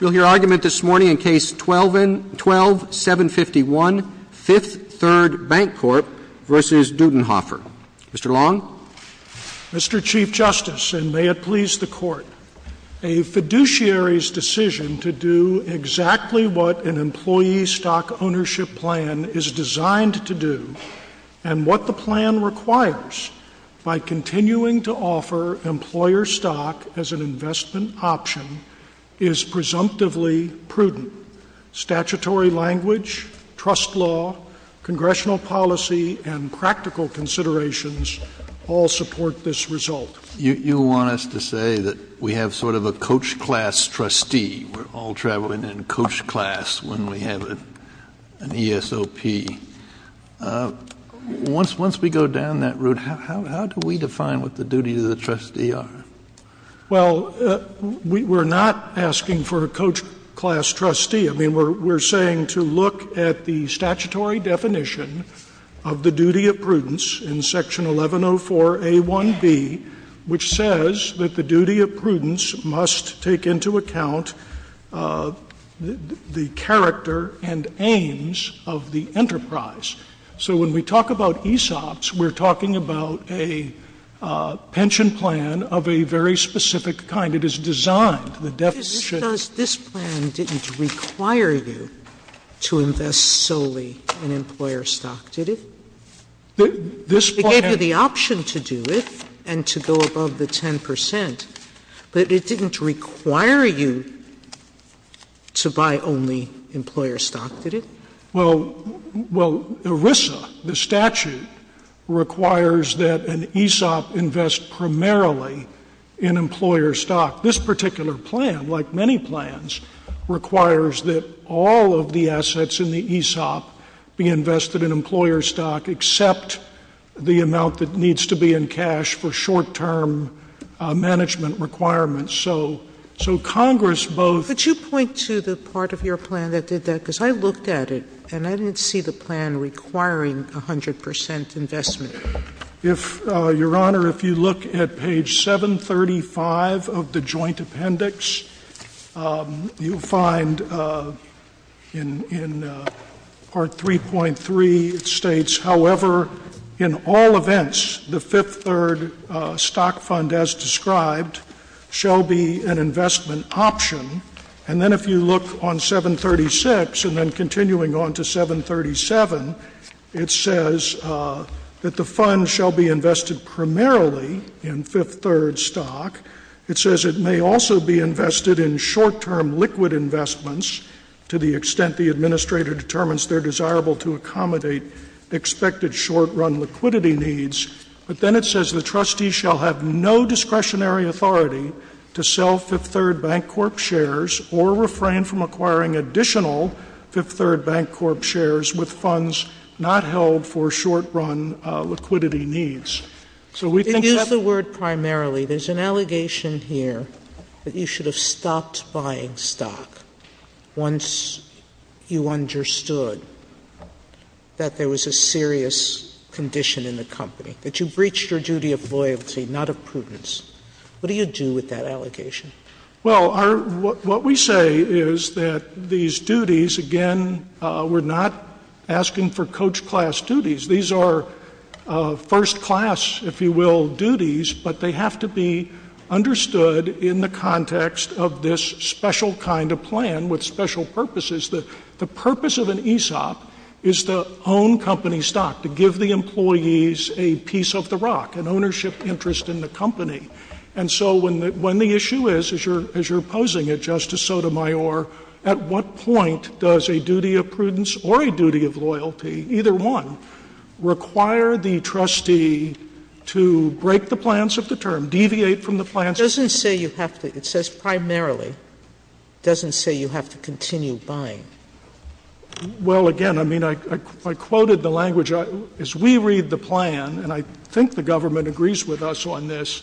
We'll hear argument this morning in Case 12-751, Fifth Third Bancorp v. Dudenhoeffer. Mr. Long? Mr. Chief Justice, and may it please the Court, a fiduciary's decision to do exactly what an employee stock ownership plan is designed to do, and what the plan requires by continuing to offer employer stock as an investment option, is presumptively prudent. Statutory language, trust law, congressional policy, and practical considerations all support this result. You want us to say that we have sort of a coach class trustee. We're all traveling in coach class when we have an ESOP. Once we go down that route, how do we define what the duties of the trustee are? Well, we're not asking for a coach class trustee. I mean, we're saying to look at the statutory definition of the duty of prudence in Section 1104a1b, which says that the duty of prudence must take into account the character and aims of the enterprise. So when we talk about ESOPs, we're talking about a pension plan of a very specific kind. It is designed, the deficit. Sotomayor This plan didn't require you to invest solely in employer stock, did it? They gave you the option to do it. And to go above the 10 percent. But it didn't require you to buy only employer stock, did it? Well, well, ERISA, the statute, requires that an ESOP invest primarily in employer stock. This particular plan, like many plans, requires that all of the assets in the ESOP be invested in employer stock, except the amount that needs to be in cash for short-term management requirements. So Congress both — Sotomayor Could you point to the part of your plan that did that? Because I looked at it, and I didn't see the plan requiring 100 percent investment. If, Your Honor, if you look at page 735 of the joint appendix, you'll find in part 3.3, it states, however, in all events, the fifth-third stock fund as described shall be an investment option. And then if you look on 736, and then continuing on to 737, it says that the fifth- fund shall be invested primarily in fifth-third stock. It says it may also be invested in short-term liquid investments to the extent the administrator determines they're desirable to accommodate expected short-run liquidity needs. But then it says the trustee shall have no discretionary authority to sell fifth- third bank corp shares or refrain from acquiring additional fifth-third bank corp shares with funds not held for short-run liquidity needs. So we think that's — Sotomayor They use the word primarily. There's an allegation here that you should have stopped buying stock once you understood that there was a serious condition in the company, that you breached your duty of loyalty, not of prudence. What do you do with that allegation? Well, our — what we say is that these duties, again, we're not asking for coach-class duties. These are first-class, if you will, duties, but they have to be understood in the context of this special kind of plan with special purposes. The purpose of an ESOP is to own company stock, to give the employees a piece of the rock, an ownership interest in the company. And so when the issue is, as you're posing it, Justice Sotomayor, at what point does a duty of prudence or a duty of loyalty, either one, require the trustee to break the plans of the term, deviate from the plans of the term? Sotomayor It doesn't say you have to — it says primarily. It doesn't say you have to continue buying. Well, again, I mean, I quoted the language. As we read the plan, and I think the government agrees with us on this,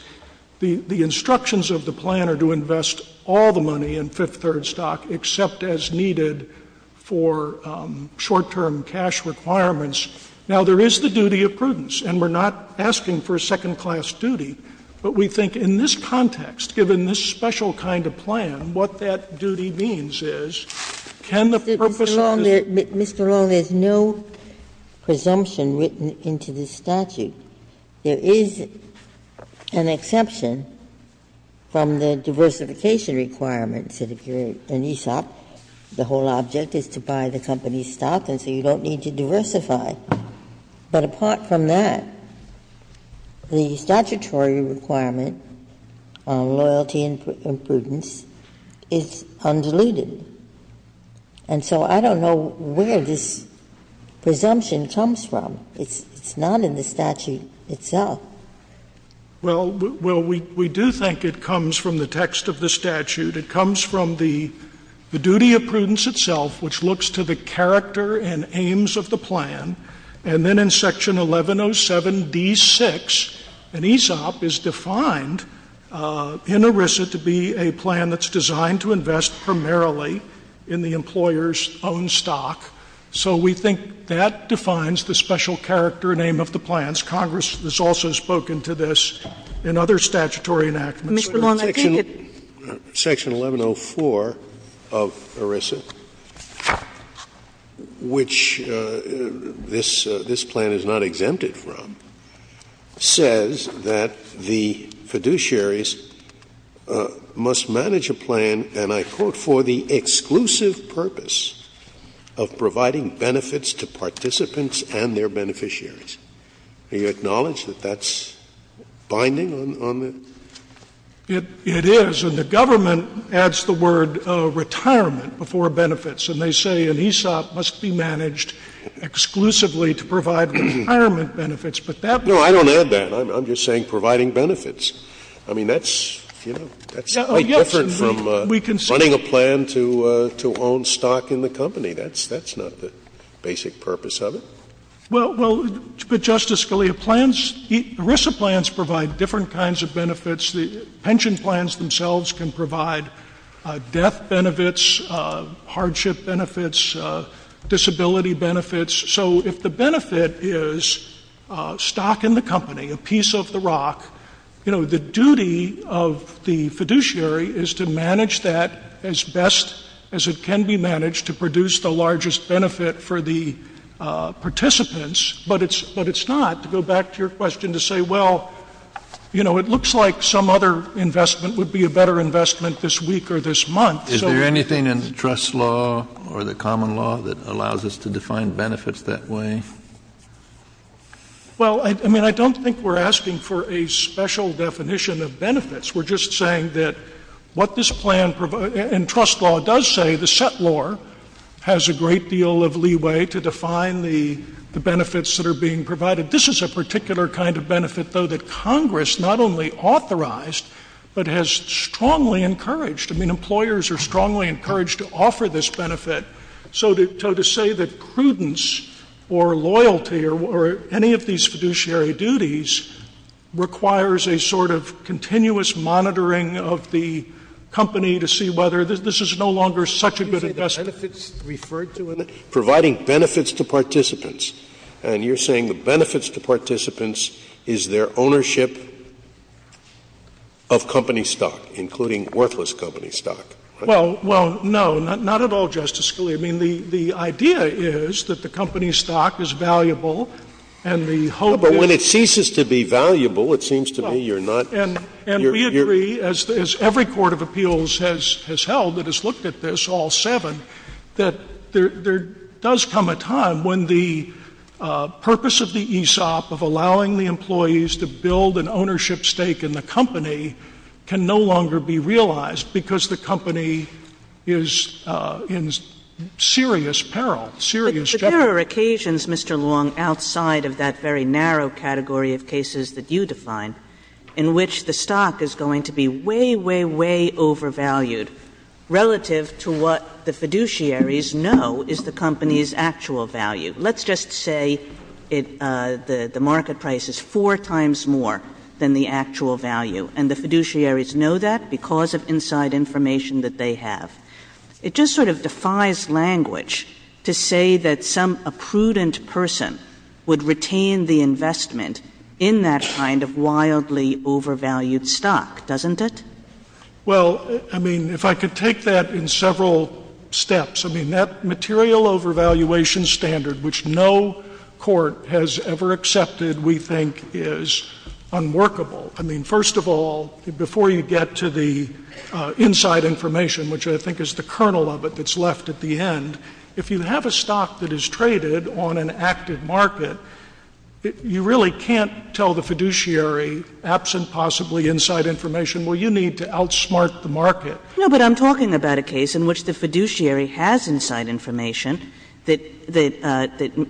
the instructions of the plan are to invest all the money in fifth-third stock, except as needed for short-term cash requirements. Now, there is the duty of prudence, and we're not asking for a second-class duty, but we think in this context, given this special kind of plan, what that duty means is, can the purpose of this— Ginsburg But, Mr. Long, there's no presumption written into the statute. There is an exception from the diversification requirements that occur in ESOP. The whole object is to buy the company's stock, and so you don't need to diversify. But apart from that, the statutory requirement on loyalty and prudence is undiluted. And so I don't know where this presumption comes from. It's not in the statute itself. Long, Jr. Well, we do think it comes from the text of the statute. It comes from the duty of prudence itself, which looks to the character and aims of the plan, and then in Section 1107d6, an ESOP is defined in ERISA to be a plan that's designed to invest primarily in the employer's own stock. So we think that defines the special character and aim of the plans. Congress has also spoken to this in other statutory enactments. Kagan Mr. Long, I think it— Scalia Section 1104 of ERISA, which this plan is not exempted from, says that the fiduciaries must manage a plan, and I quote, "...for the exclusive purpose of providing benefits to participants and their beneficiaries." Do you acknowledge that that's binding on the— Long, Jr. It is. And the government adds the word retirement before benefits. And they say an ESOP must be managed exclusively to provide retirement benefits, but that— Scalia No, I don't add that. I'm just saying providing benefits. I mean, that's, you know, that's quite different from running a plan to own stock in the company. That's not the basic purpose of it. Long, Jr. Well, Justice Scalia, plans, ERISA plans provide different kinds of benefits. Pension plans themselves can provide death benefits, hardship benefits, disability benefits. So if the benefit is stock in the company, a piece of the rock, you know, the duty of the fiduciary is to manage that as best as it can be managed to produce the largest benefit for the participants. But it's not to go back to your question to say, well, you know, it looks like some other investment would be a better investment this week or this month. Kennedy Is there anything in trust law or the common law that allows us to define benefits that way? Long, Jr. Well, I mean, I don't think we're asking for a special definition of benefits. We're just saying that what this plan in trust law does say, the set law has a great deal of leeway to define the benefits that are being provided. This is a particular kind of benefit, though, that Congress not only authorized but has strongly encouraged. I mean, employers are strongly encouraged to offer this benefit. So to say that prudence or loyalty or any of these fiduciary duties requires a sort of continuous monitoring of the company to see whether this is no longer such a good investment. Scalia You say the benefits referred to in it? Providing benefits to participants. And you're saying the benefits to participants is their ownership of company stock, including worthless company stock. Long, Jr. Well, no, not at all, Justice Scalia. I mean, the idea is that the company stock is valuable and the hope is Scalia But when it ceases to be valuable, it seems to me you're not Long, Jr. And we agree, as every court of appeals has held that has looked at this, all seven, that there does come a time when the purpose of the ESOP, of allowing the employees to build an ownership stake in the company, can no longer be realized because the company is in serious peril, serious jeopardy. Kagan But there are occasions, Mr. Long, outside of that very narrow category of cases that you define, in which the stock is going to be way, way, way overvalued relative to what the fiduciaries know is the company's actual value. Let's just say the market price is four times more than the actual value, and the fiduciaries know that because of inside information that they have. It just sort of defies language to say that some prudent person would retain the investment in that kind of wildly overvalued stock, doesn't it? Long, Jr. Well, I mean, if I could take that in several steps, I mean, that material overvaluation standard, which no court has ever accepted, we think, is unworkable. I mean, first of all, before you get to the inside information, which I think is the kernel of it that's left at the end, if you have a stock that is traded on an active market, you really can't tell the fiduciary, absent possibly inside information, well, you need to outsmart the market. Kagan No, but I'm talking about a case in which the fiduciary has inside information that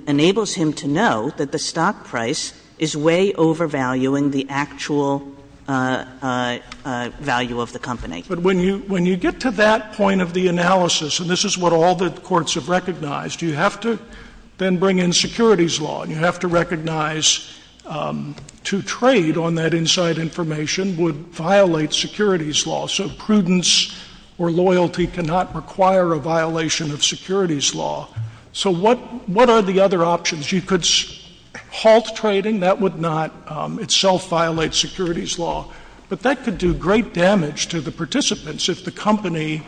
enables him to know that the stock price is way overvaluing the actual value of the company. Sotomayor But when you get to that point of the analysis, and this is what all the courts have recognized, you have to then bring in securities law, and you have to recognize to trade on that inside information would violate securities law. So prudence or loyalty cannot require a violation of securities law. So what are the other options? You could halt trading. That would not itself violate securities law. But that could do great damage to the participants if the company's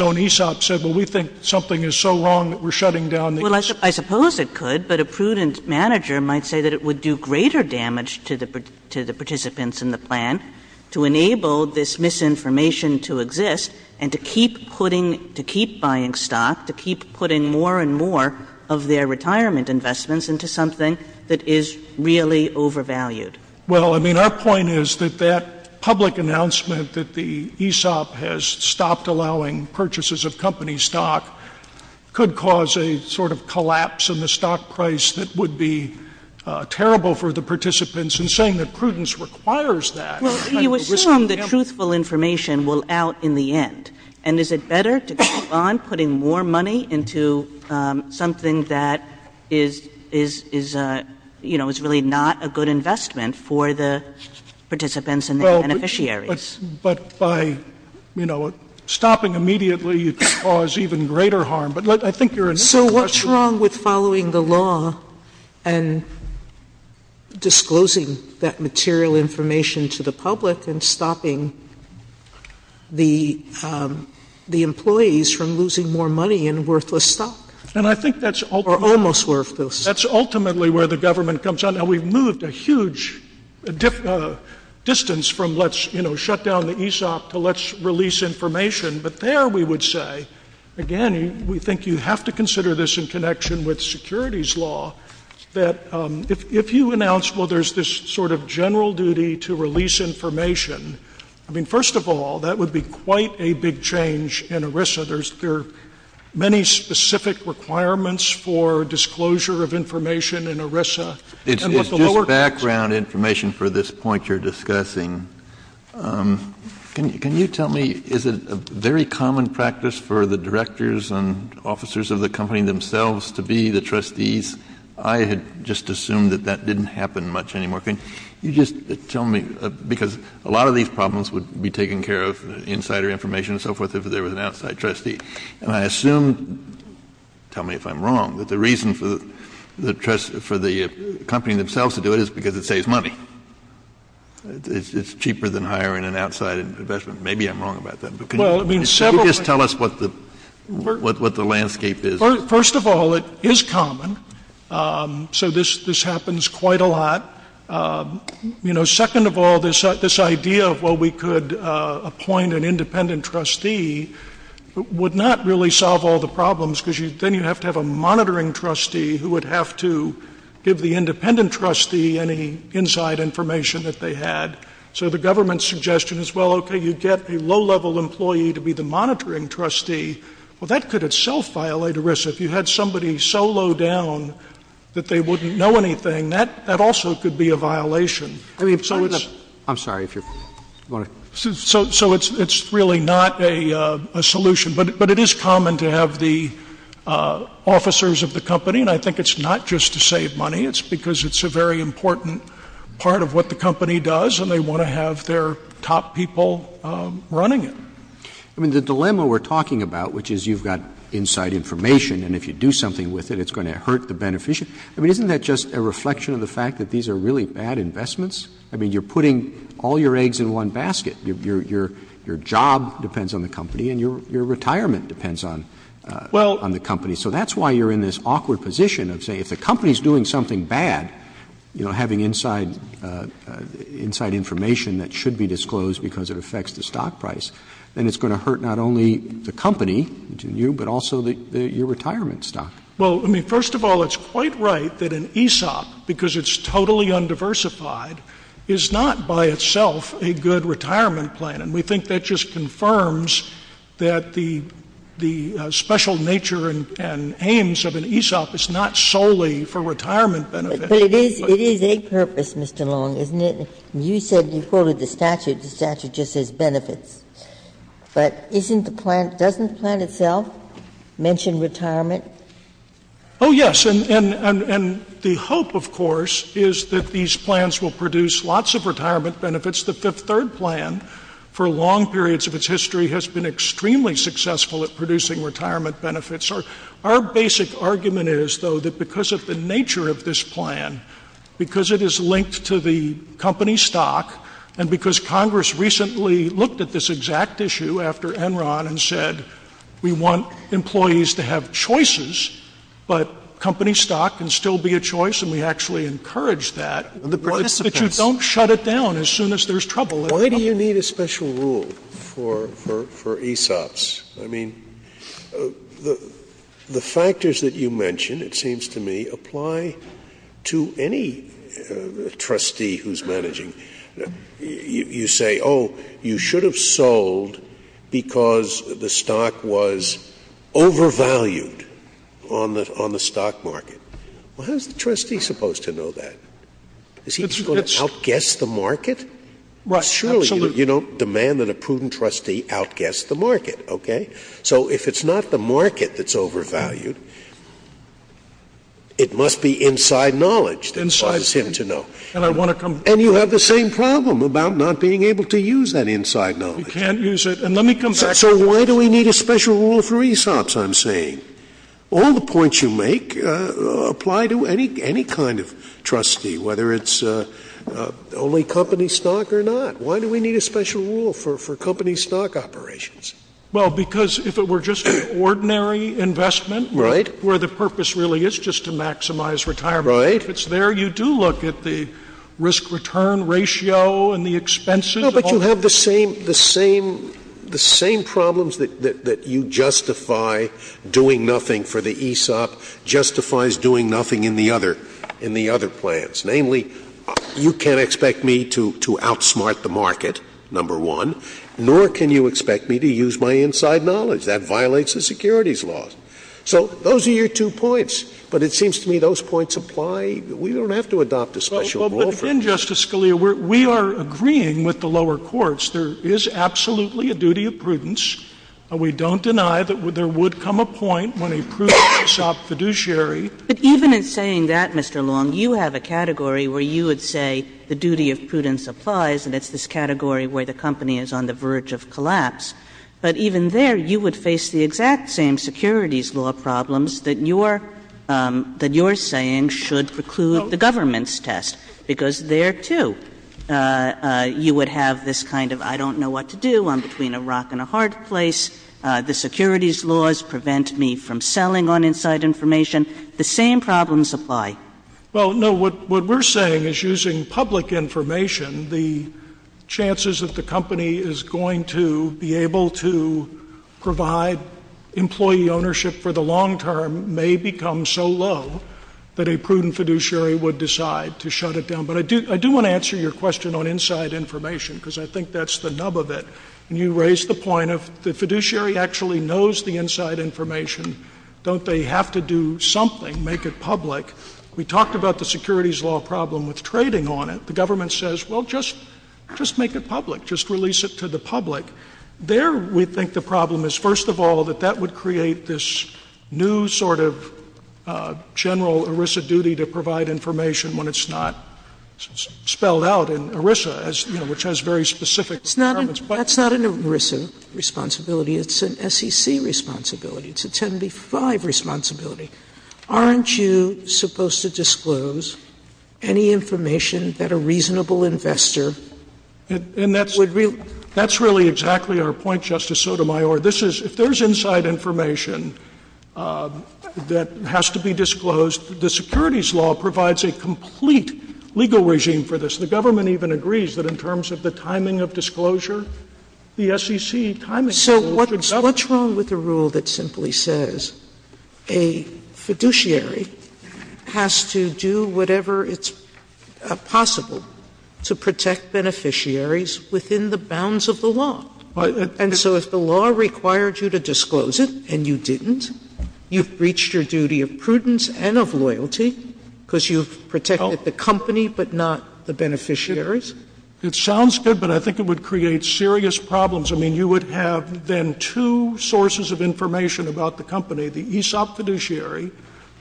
own ESOP said, well, we think something is so wrong that we're shutting down the ESOP. Well, I suppose it could, but a prudent manager might say that it would do greater damage to the participants in the plan to enable this misinformation to exist and to keep putting, to keep buying stock, to keep putting more and more of their retirement investments into something that is really overvalued. Sotomayor Well, I mean, our point is that that public announcement that the ESOP has stopped allowing purchases of company stock could cause a sort of collapse in the stock price that would be terrible for the participants, and saying that prudence requires that. Kagan Well, you assume the truthful information will out in the end. And is it better to keep on putting more money into something that is, you know, is really not a good investment for the participants and their beneficiaries? Sotomayor But by, you know, stopping immediately, you could cause even greater harm. But I think your initial question Sotomayor So what's wrong with following the law and disclosing that material information to the public and stopping the employees from losing more money in worthless stock? Kagan And I think that's ultimately Sotomayor Or almost worthless. Kagan That's ultimately where the government comes in. Now, we've moved a huge distance from let's, you know, shut down the ESOP to let's release information. But there we would say, again, we think you have to consider this in connection with securities law, that if you announce, well, there's this sort of general duty to release information, I mean, first of all, that would be quite a big change in ERISA. There are many specific requirements for disclosure of information in ERISA. Kennedy It's just background information for this point you're discussing. Can you tell me, is it a very common practice for the directors and officers of the company themselves to be the trustees? I had just assumed that that didn't happen much anymore. Can you just tell me, because a lot of these problems would be taken care of, insider information and so forth, if there was an outside trustee. And I assume, tell me if I'm wrong, that the reason for the company themselves to do it is because it saves money. It's cheaper than hiring an outside investment. Maybe I'm wrong about that. But can you just tell us what the landscape is? Kagan First of all, it is common. So this happens quite a lot. You know, second of all, this idea of, well, we could appoint an independent trustee would not really solve all the problems, because then you have to have a monitoring trustee who would have to give the independent trustee any inside information that they had. So the government's suggestion is, well, okay, you get a low-level employee to be the monitoring trustee. Well, that could itself violate ERISA. If you had somebody so low down that they wouldn't know anything, that also could be a violation. So it's — Roberts I'm sorry. So it's really not a solution. But it is common to have the officers of the company, and I think it's not just to save money. It's because it's a very important part of what the company does, and they want to have their top people running it. Roberts I mean, the dilemma we're talking about, which is you've got inside information and if you do something with it, it's going to hurt the beneficiary. I mean, isn't that just a reflection of the fact that these are really bad investments? I mean, you're putting all your eggs in one basket. Your job depends on the company and your retirement depends on the company. So that's why you're in this awkward position of saying if the company's doing something bad, you know, having inside information that should be disclosed because it affects the stock price, then it's going to hurt not only the company, which is you, but also your retirement stock. Well, I mean, first of all, it's quite right that an ESOP, because it's totally undiversified, is not by itself a good retirement plan, and we think that just confirms that the special nature and aims of an ESOP is not solely for retirement benefits. But it is a purpose, Mr. Long, isn't it? You said you quoted the statute. The statute just says benefits. But isn't the plan — doesn't the plan itself mention retirement? Oh, yes. And the hope, of course, is that these plans will produce lots of retirement benefits. The Fifth Third plan, for long periods of its history, has been extremely successful at producing retirement benefits. Our basic argument is, though, that because of the nature of this plan, because it is linked to the company stock, and because Congress recently looked at this exact issue after Enron and said we want employees to have choices, but company stock can still be a choice, and we actually encourage that, that you don't shut it down as soon as there's trouble. Why do you need a special rule for ESOPs? I mean, the factors that you mention, it seems to me, apply to any trustee who's managing. You say, oh, you should have sold because the stock was overvalued on the stock market. Well, how is the trustee supposed to know that? Is he just going to outguess the market? Right. Absolutely. Surely you don't demand that a prudent trustee outguess the market. Okay? So if it's not the market that's overvalued, it must be inside knowledge that inspires him to know. And I want to come back to that. And you have the same problem about not being able to use that inside knowledge. You can't use it. And let me come back to that. So why do we need a special rule for ESOPs, I'm saying? All the points you make apply to any kind of trustee, whether it's only company stock or not. Why do we need a special rule for company stock operations? Well, because if it were just an ordinary investment where the purpose really is just to maximize retirement, if it's there, you do look at the risk-return ratio and the expenses. No, but you have the same problems that you justify doing nothing for the ESOP justifies doing nothing in the other plans. Namely, you can't expect me to outsmart the market, number one, nor can you expect me to use my inside knowledge. That violates the securities laws. So those are your two points. But it seems to me those points apply. We don't have to adopt a special rule for it. But then, Justice Scalia, we are agreeing with the lower courts there is absolutely a duty of prudence. We don't deny that there would come a point when a prudent ESOP fiduciary But even in saying that, Mr. Long, you have a category where you would say the duty of prudence applies, and it's this category where the company is on the verge of collapse. But even there, you would face the exact same securities law problems that your saying should preclude the government's test. Because there, too, you would have this kind of I don't know what to do, I'm between a rock and a hard place, the securities laws prevent me from selling on inside information, the same problems apply. Well, no. What we're saying is using public information, the chances that the company is going to be able to provide employee ownership for the long term may become so low that a prudent fiduciary would decide to shut it down. But I do want to answer your question on inside information, because I think that's the nub of it. And you raise the point of the fiduciary actually knows the inside information. Don't they have to do something, make it public? We talked about the securities law problem with trading on it. The government says, well, just make it public. Just release it to the public. There we think the problem is, first of all, that that would create this new sort of general ERISA duty to provide information when it's not spelled out in ERISA, you know, which has very specific requirements. But it's not an ERISA responsibility. It's an SEC responsibility. It's a 10b-5 responsibility. Aren't you supposed to disclose any information that a reasonable investor would release? And that's really exactly our point, Justice Sotomayor. This is — if there's inside information that has to be disclosed, the securities law provides a complete legal regime for this. The government even agrees that in terms of the timing of disclosure, the SEC timing rule should govern. Sotomayor, so what's wrong with a rule that simply says a fiduciary has to do whatever it's possible to protect beneficiaries within the bounds of the law? And so if the law required you to disclose it and you didn't, you've breached your duty of prudence and of loyalty because you've protected the company but not the beneficiaries? It sounds good, but I think it would create serious problems. I mean, you would have then two sources of information about the company. The ESOP fiduciary,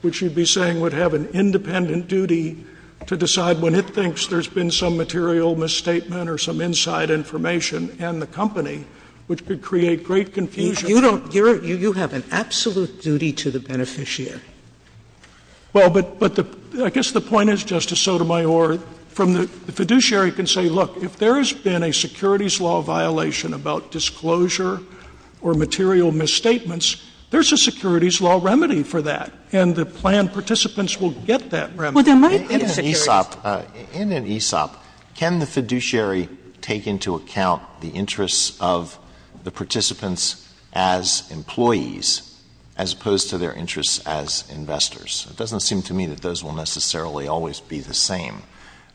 which you'd be saying would have an independent duty to decide when it thinks there's been some material misstatement or some inside information and the company, which could create great confusion. You don't — you have an absolute duty to the beneficiary. Well, but the — I guess the point is, Justice Sotomayor, from the — the fiduciary can say, look, if there's been a securities law violation about disclosure or material misstatements, there's a securities law remedy for that. And the planned participants will get that remedy. Well, there might be a security — In an ESOP, can the fiduciary take into account the interests of the participants as employees as opposed to their interests as investors? It doesn't seem to me that those will necessarily always be the same.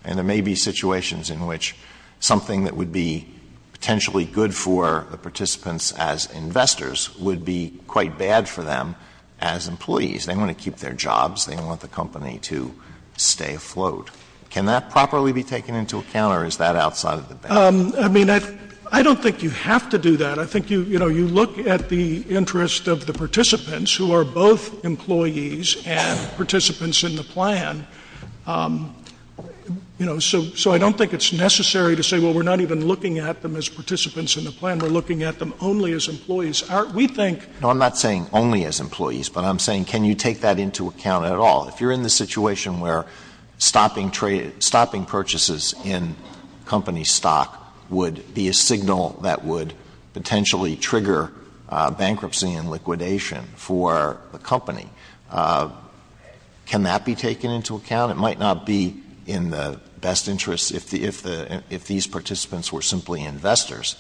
And there may be situations in which something that would be potentially good for the participants as investors would be quite bad for them as employees. They want to keep their jobs. They don't want the company to stay afloat. Can that properly be taken into account, or is that outside of the ban? I mean, I don't think you have to do that. I think, you know, you look at the interest of the participants, who are both employees and participants in the plan, you know, so — so I don't think it's necessary to say, well, we're not even looking at them as participants in the plan. We're looking at them only as employees. We think — No, I'm not saying only as employees, but I'm saying, can you take that into account at all? If you're in the situation where stopping trade — stopping purchases in company stock would be a signal that would potentially trigger bankruptcy and liquidation for the company, can that be taken into account? It might not be in the best interest — if the — if the — if these participants were simply investors,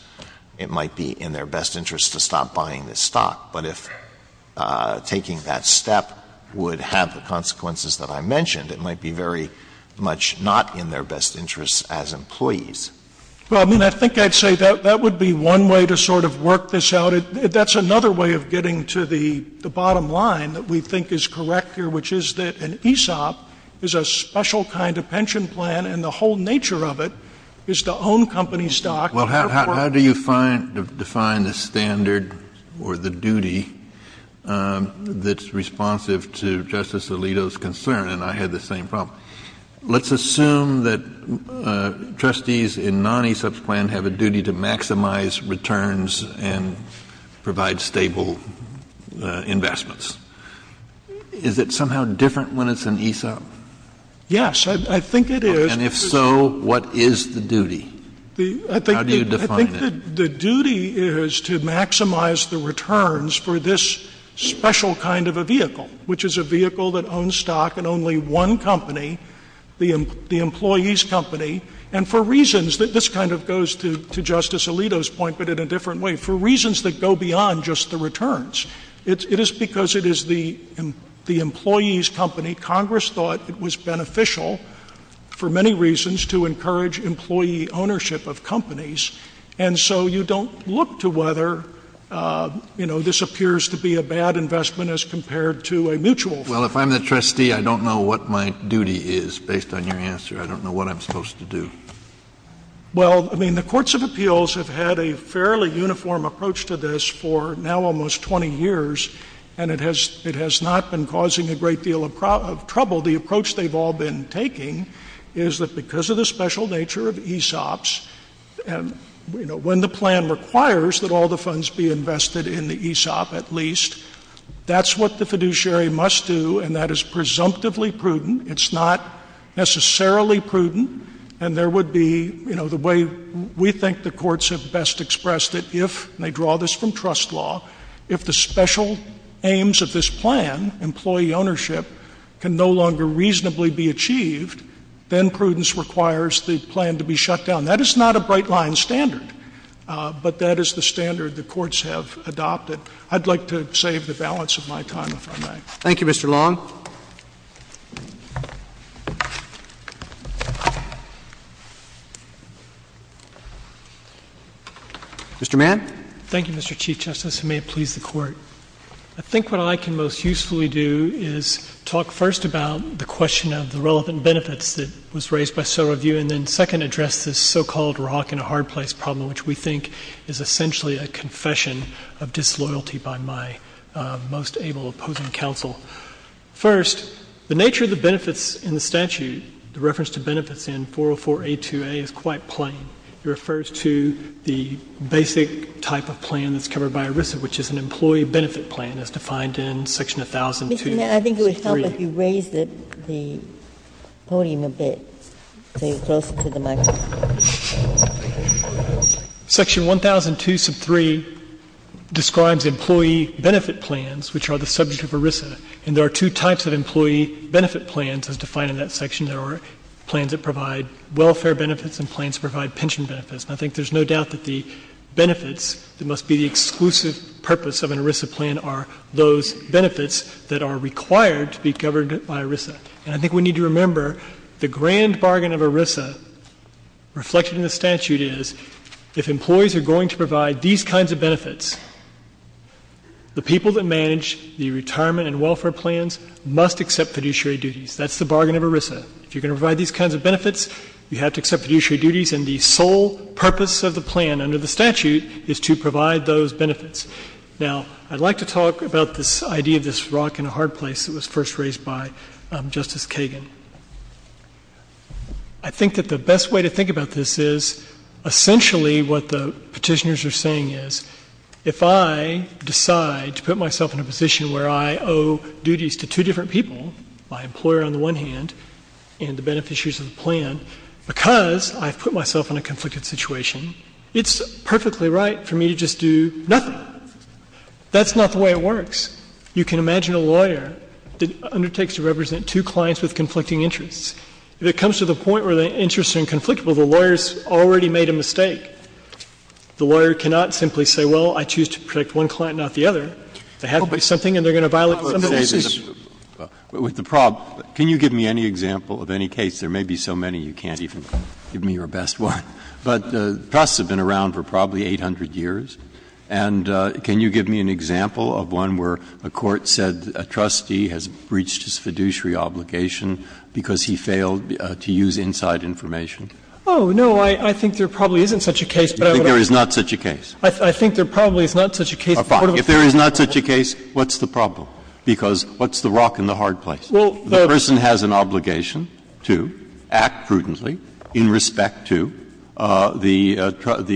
it might be in their best interest to stop buying this stock. But if taking that step would have the consequences that I mentioned, it might be very much not in their best interest as employees. Well, I mean, I think I'd say that would be one way to sort of work this out. That's another way of getting to the bottom line that we think is correct here, which is that an ESOP is a special kind of pension plan, and the whole nature of it is to own company stock — Well, how do you find — define the standard or the duty that's responsive to Justice Alito's concern? And I had the same problem. Let's assume that trustees in non-ESOPs plan have a duty to maximize returns and provide stable investments. Is it somehow different when it's an ESOP? Yes. I think it is. And if so, what is the duty? How do you define it? I think the duty is to maximize the returns for this special kind of a vehicle, which is a vehicle that owns stock in only one company, the employees' company, and for reasons — this kind of goes to Justice Alito's point, but in a different way — for reasons that go beyond just the returns. It is because it is the employees' company. Congress thought it was beneficial for many reasons to encourage employee ownership of companies. And so you don't look to whether, you know, this appears to be a bad investment as compared to a mutual fund. Well, if I'm the trustee, I don't know what my duty is, based on your answer. I don't know what I'm supposed to do. Well, I mean, the courts of appeals have had a fairly uniform approach to this for now almost 20 years, and it has — it has not been causing a great deal of trouble. The approach they've all been taking is that because of the special nature of ESOPs and, you know, when the plan requires that all the funds be invested in the ESOP at least, that's what the fiduciary must do, and that is presumptively prudent. It's not necessarily prudent, and there would be — you know, the way we think the courts have best expressed it, if — and they draw this from trust law — if the special aims of this plan, employee ownership, can no longer reasonably be achieved, then prudence requires the plan to be shut down. That is not a bright-line standard, but that is the standard the courts have adopted. I'd like to save the balance of my time, if I may. Thank you, Mr. Long. Mr. Mann. Thank you, Mr. Chief Justice, and may it please the Court. I think what I can most usefully do is talk first about the question of the relevant so-called rock-and-hard-place problem, which we think is essentially a confession of disloyalty by my most able opposing counsel. First, the nature of the benefits in the statute, the reference to benefits in 404a2a is quite plain. It refers to the basic type of plan that's covered by ERISA, which is an employee benefit plan, as defined in section 1002.3. And I think it would help if you raised the podium a bit so you're closer to the microphone. Section 1002.3 describes employee benefit plans, which are the subject of ERISA. And there are two types of employee benefit plans as defined in that section. There are plans that provide welfare benefits and plans that provide pension benefits. And I think there's no doubt that the benefits that must be the exclusive purpose of an ERISA plan are those benefits that are required to be governed by ERISA. And I think we need to remember the grand bargain of ERISA reflected in the statute is if employees are going to provide these kinds of benefits, the people that manage the retirement and welfare plans must accept fiduciary duties. That's the bargain of ERISA. If you're going to provide these kinds of benefits, you have to accept fiduciary duties. And the sole purpose of the plan under the statute is to provide those benefits. Now, I'd like to talk about this idea of this rock in a hard place that was first raised by Justice Kagan. I think that the best way to think about this is essentially what the petitioners are saying is if I decide to put myself in a position where I owe duties to two different people, my employer on the one hand and the beneficiaries of the plan, because I've put myself in a conflicted situation, it's perfectly right for me to just do nothing. That's not the way it works. You can imagine a lawyer that undertakes to represent two clients with conflicting interests. If it comes to the point where the interests are inconflictable, the lawyer has already made a mistake. The lawyer cannot simply say, well, I choose to protect one client, not the other. They have to be something, and they're going to violate some of the standards. Breyer. With the problem, can you give me any example of any case? There may be so many you can't even give me your best one. But trusts have been around for probably 800 years. And can you give me an example of one where a court said a trustee has breached his fiduciary obligation because he failed to use inside information? Oh, no. I think there probably isn't such a case, but I would argue. You think there is not such a case? I think there probably is not such a case. If there is not such a case, what's the problem? Because what's the rock and the hard place? The person has an obligation to act prudently in respect to the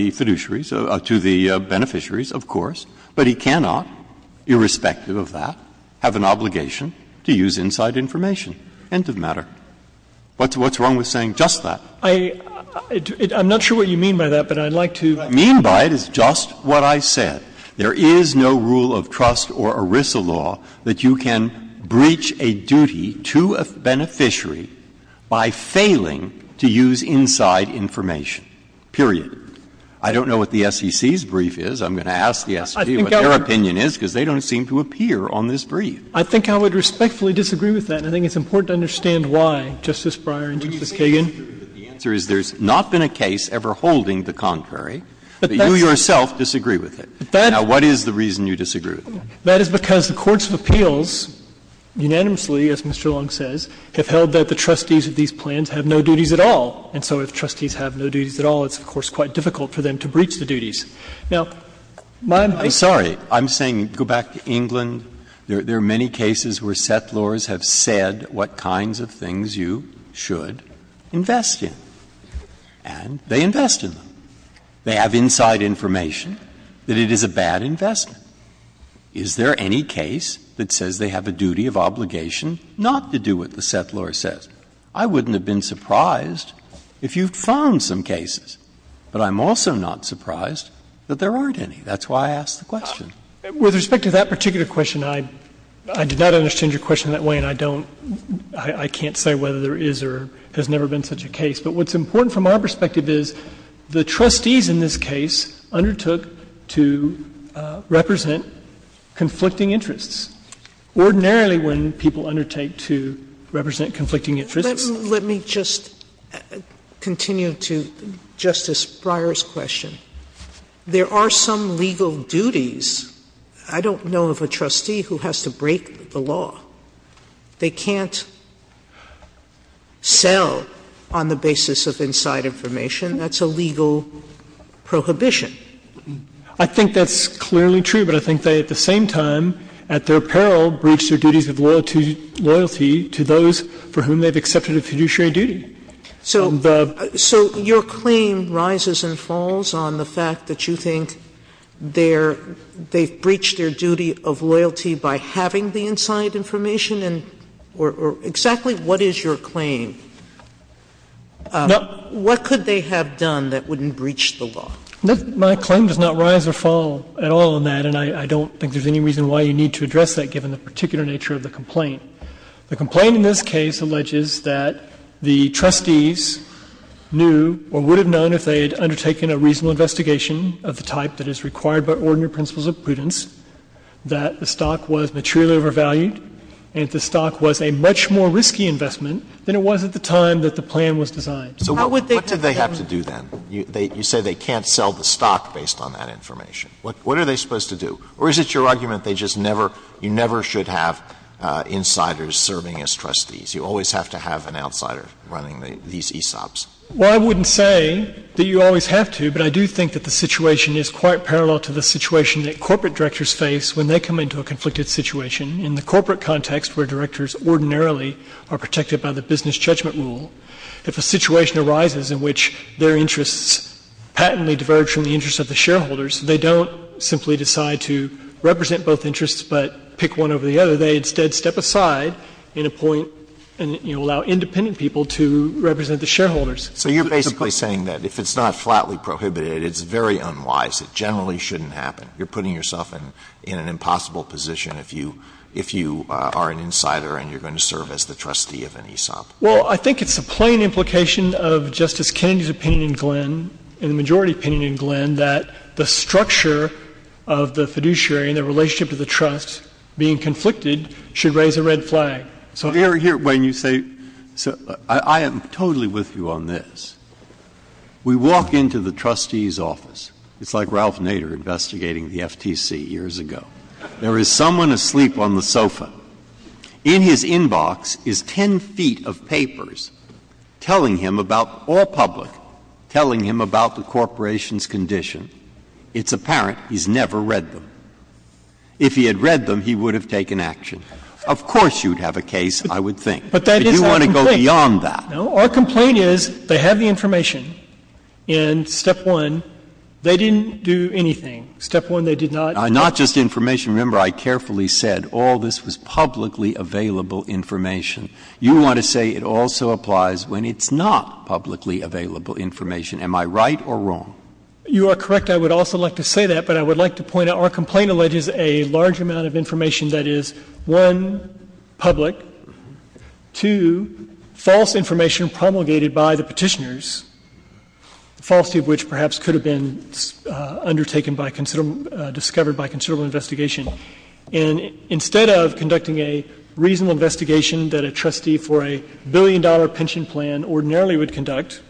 fiduciaries, to the beneficiaries, of course. But he cannot, irrespective of that, have an obligation to use inside information. End of matter. What's wrong with saying just that? I'm not sure what you mean by that, but I'd like to. What I mean by it is just what I said. There is no rule of trust or ERISA law that you can breach a duty to a beneficiary by failing to use inside information, period. I don't know what the SEC's brief is. I'm going to ask the SEC what their opinion is, because they don't seem to appear on this brief. I think I would respectfully disagree with that, and I think it's important to understand why, Justice Breyer and Justice Kagan. The answer is there's not been a case ever holding the contrary, but you yourself disagree with it. Now, what is the reason you disagree with it? That is because the courts of appeals, unanimously, as Mr. Long says, have held that the trustees of these plans have no duties at all. And so if trustees have no duties at all, it's, of course, quite difficult for them to breach the duties. Now, my point is that the courts of appeals have held that the trustees have no duties at all. I'm sorry. I'm saying, go back to England, there are many cases where settlors have said what kinds of things you should invest in, and they invest in them. They have inside information that it is a bad investment. Is there any case that says they have a duty of obligation not to do what the settlor says? I wouldn't have been surprised if you found some cases, but I'm also not surprised that there aren't any. That's why I asked the question. With respect to that particular question, I did not understand your question that way, and I don't – I can't say whether there is or has never been such a case. But what's important from our perspective is the trustees in this case undertook to represent conflicting interests. Ordinarily, when people undertake to represent conflicting interests – Sotomayor, let me just continue to Justice Breyer's question. There are some legal duties. I don't know of a trustee who has to break the law. They can't sell on the basis of inside information. That's a legal prohibition. I think that's clearly true, but I think they at the same time, at their peril, breached their duties of loyalty to those for whom they've accepted a fiduciary duty. And the – So your claim rises and falls on the fact that you think they're – they've breached their duty of loyalty by having the inside information, and – or exactly what is your claim? What could they have done that wouldn't breach the law? My claim does not rise or fall at all on that, and I don't think there's any reason why you need to address that, given the particular nature of the complaint. The complaint in this case alleges that the trustees knew or would have known if they had undertaken a reasonable investigation of the type that is required by ordinary principles of prudence, that the stock was materially overvalued, and that the stock was a much more risky investment than it was at the time that the plan was designed. So what would they have done? So what did they have to do, then? You say they can't sell the stock based on that information. What are they supposed to do? Or is it your argument they just never – you never should have insiders serving as trustees? You always have to have an outsider running these ESOPs. Well, I wouldn't say that you always have to, but I do think that the situation is quite parallel to the situation that corporate directors face when they come into a conflicted situation in the corporate context where directors ordinarily are protected by the business judgment rule. If a situation arises in which their interests patently diverge from the interests of the shareholders, they don't simply decide to represent both interests but pick one over the other. They instead step aside in a point and, you know, allow independent people to represent the shareholders. So you're basically saying that if it's not flatly prohibited, it's very unwise. It generally shouldn't happen. You're putting yourself in an impossible position if you are an insider and you're going to serve as the trustee of an ESOP. Well, I think it's the plain implication of Justice Kennedy's opinion in Glenn, and the majority opinion in Glenn, that the structure of the fiduciary and the relationship to the trust being conflicted should raise a red flag. So here, Wayne, you say, I am totally with you on this. We walk into the trustee's office. It's like Ralph Nader investigating the FTC years ago. There is someone asleep on the sofa. In his inbox is 10 feet of papers telling him about all public, telling him about the corporation's condition. It's apparent he's never read them. If he had read them, he would have taken action. Of course you would have a case, I would think. But that is our complaint. But you want to go beyond that. No. Our complaint is they have the information in Step 1. They didn't do anything. Step 1, they did not. Not just information. Remember, I carefully said all this was publicly available information. You want to say it also applies when it's not publicly available information. Am I right or wrong? You are correct. I would also like to say that, but I would like to point out our complaint alleges a large amount of information that is, one, public, two, false information promulgated by the petitioners, the falsity of which perhaps could have been undertaken by considerable, discovered by considerable investigation. And instead of conducting a reasonable investigation that a trustee for a billion dollar pension plan ordinarily would conduct,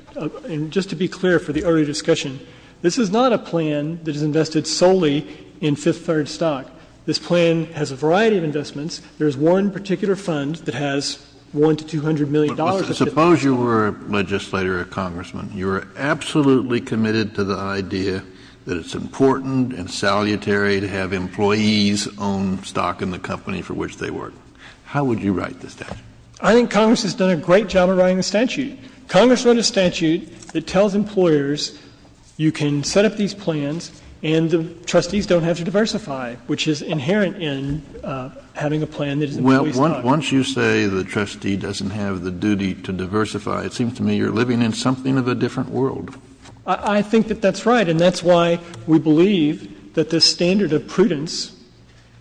and just to be clear for the early discussion, this is not a plan that is invested solely in fifth-third stock. This plan has a variety of investments. There is one particular fund that has $100 million to $200 million of fifth-third stock. Kennedy. But suppose you were a legislator or a congressman. You were absolutely committed to the idea that it's important and salutary to have employees own stock in the company for which they work. How would you write the statute? I think Congress has done a great job of writing the statute. Congress wrote a statute that tells employers you can set up these plans and the trustees don't have to diversify, which is inherent in having a plan that is employee stock. Kennedy. Well, once you say the trustee doesn't have the duty to diversify, it seems to me you're living in something of a different world. I think that that's right, and that's why we believe that this standard of prudence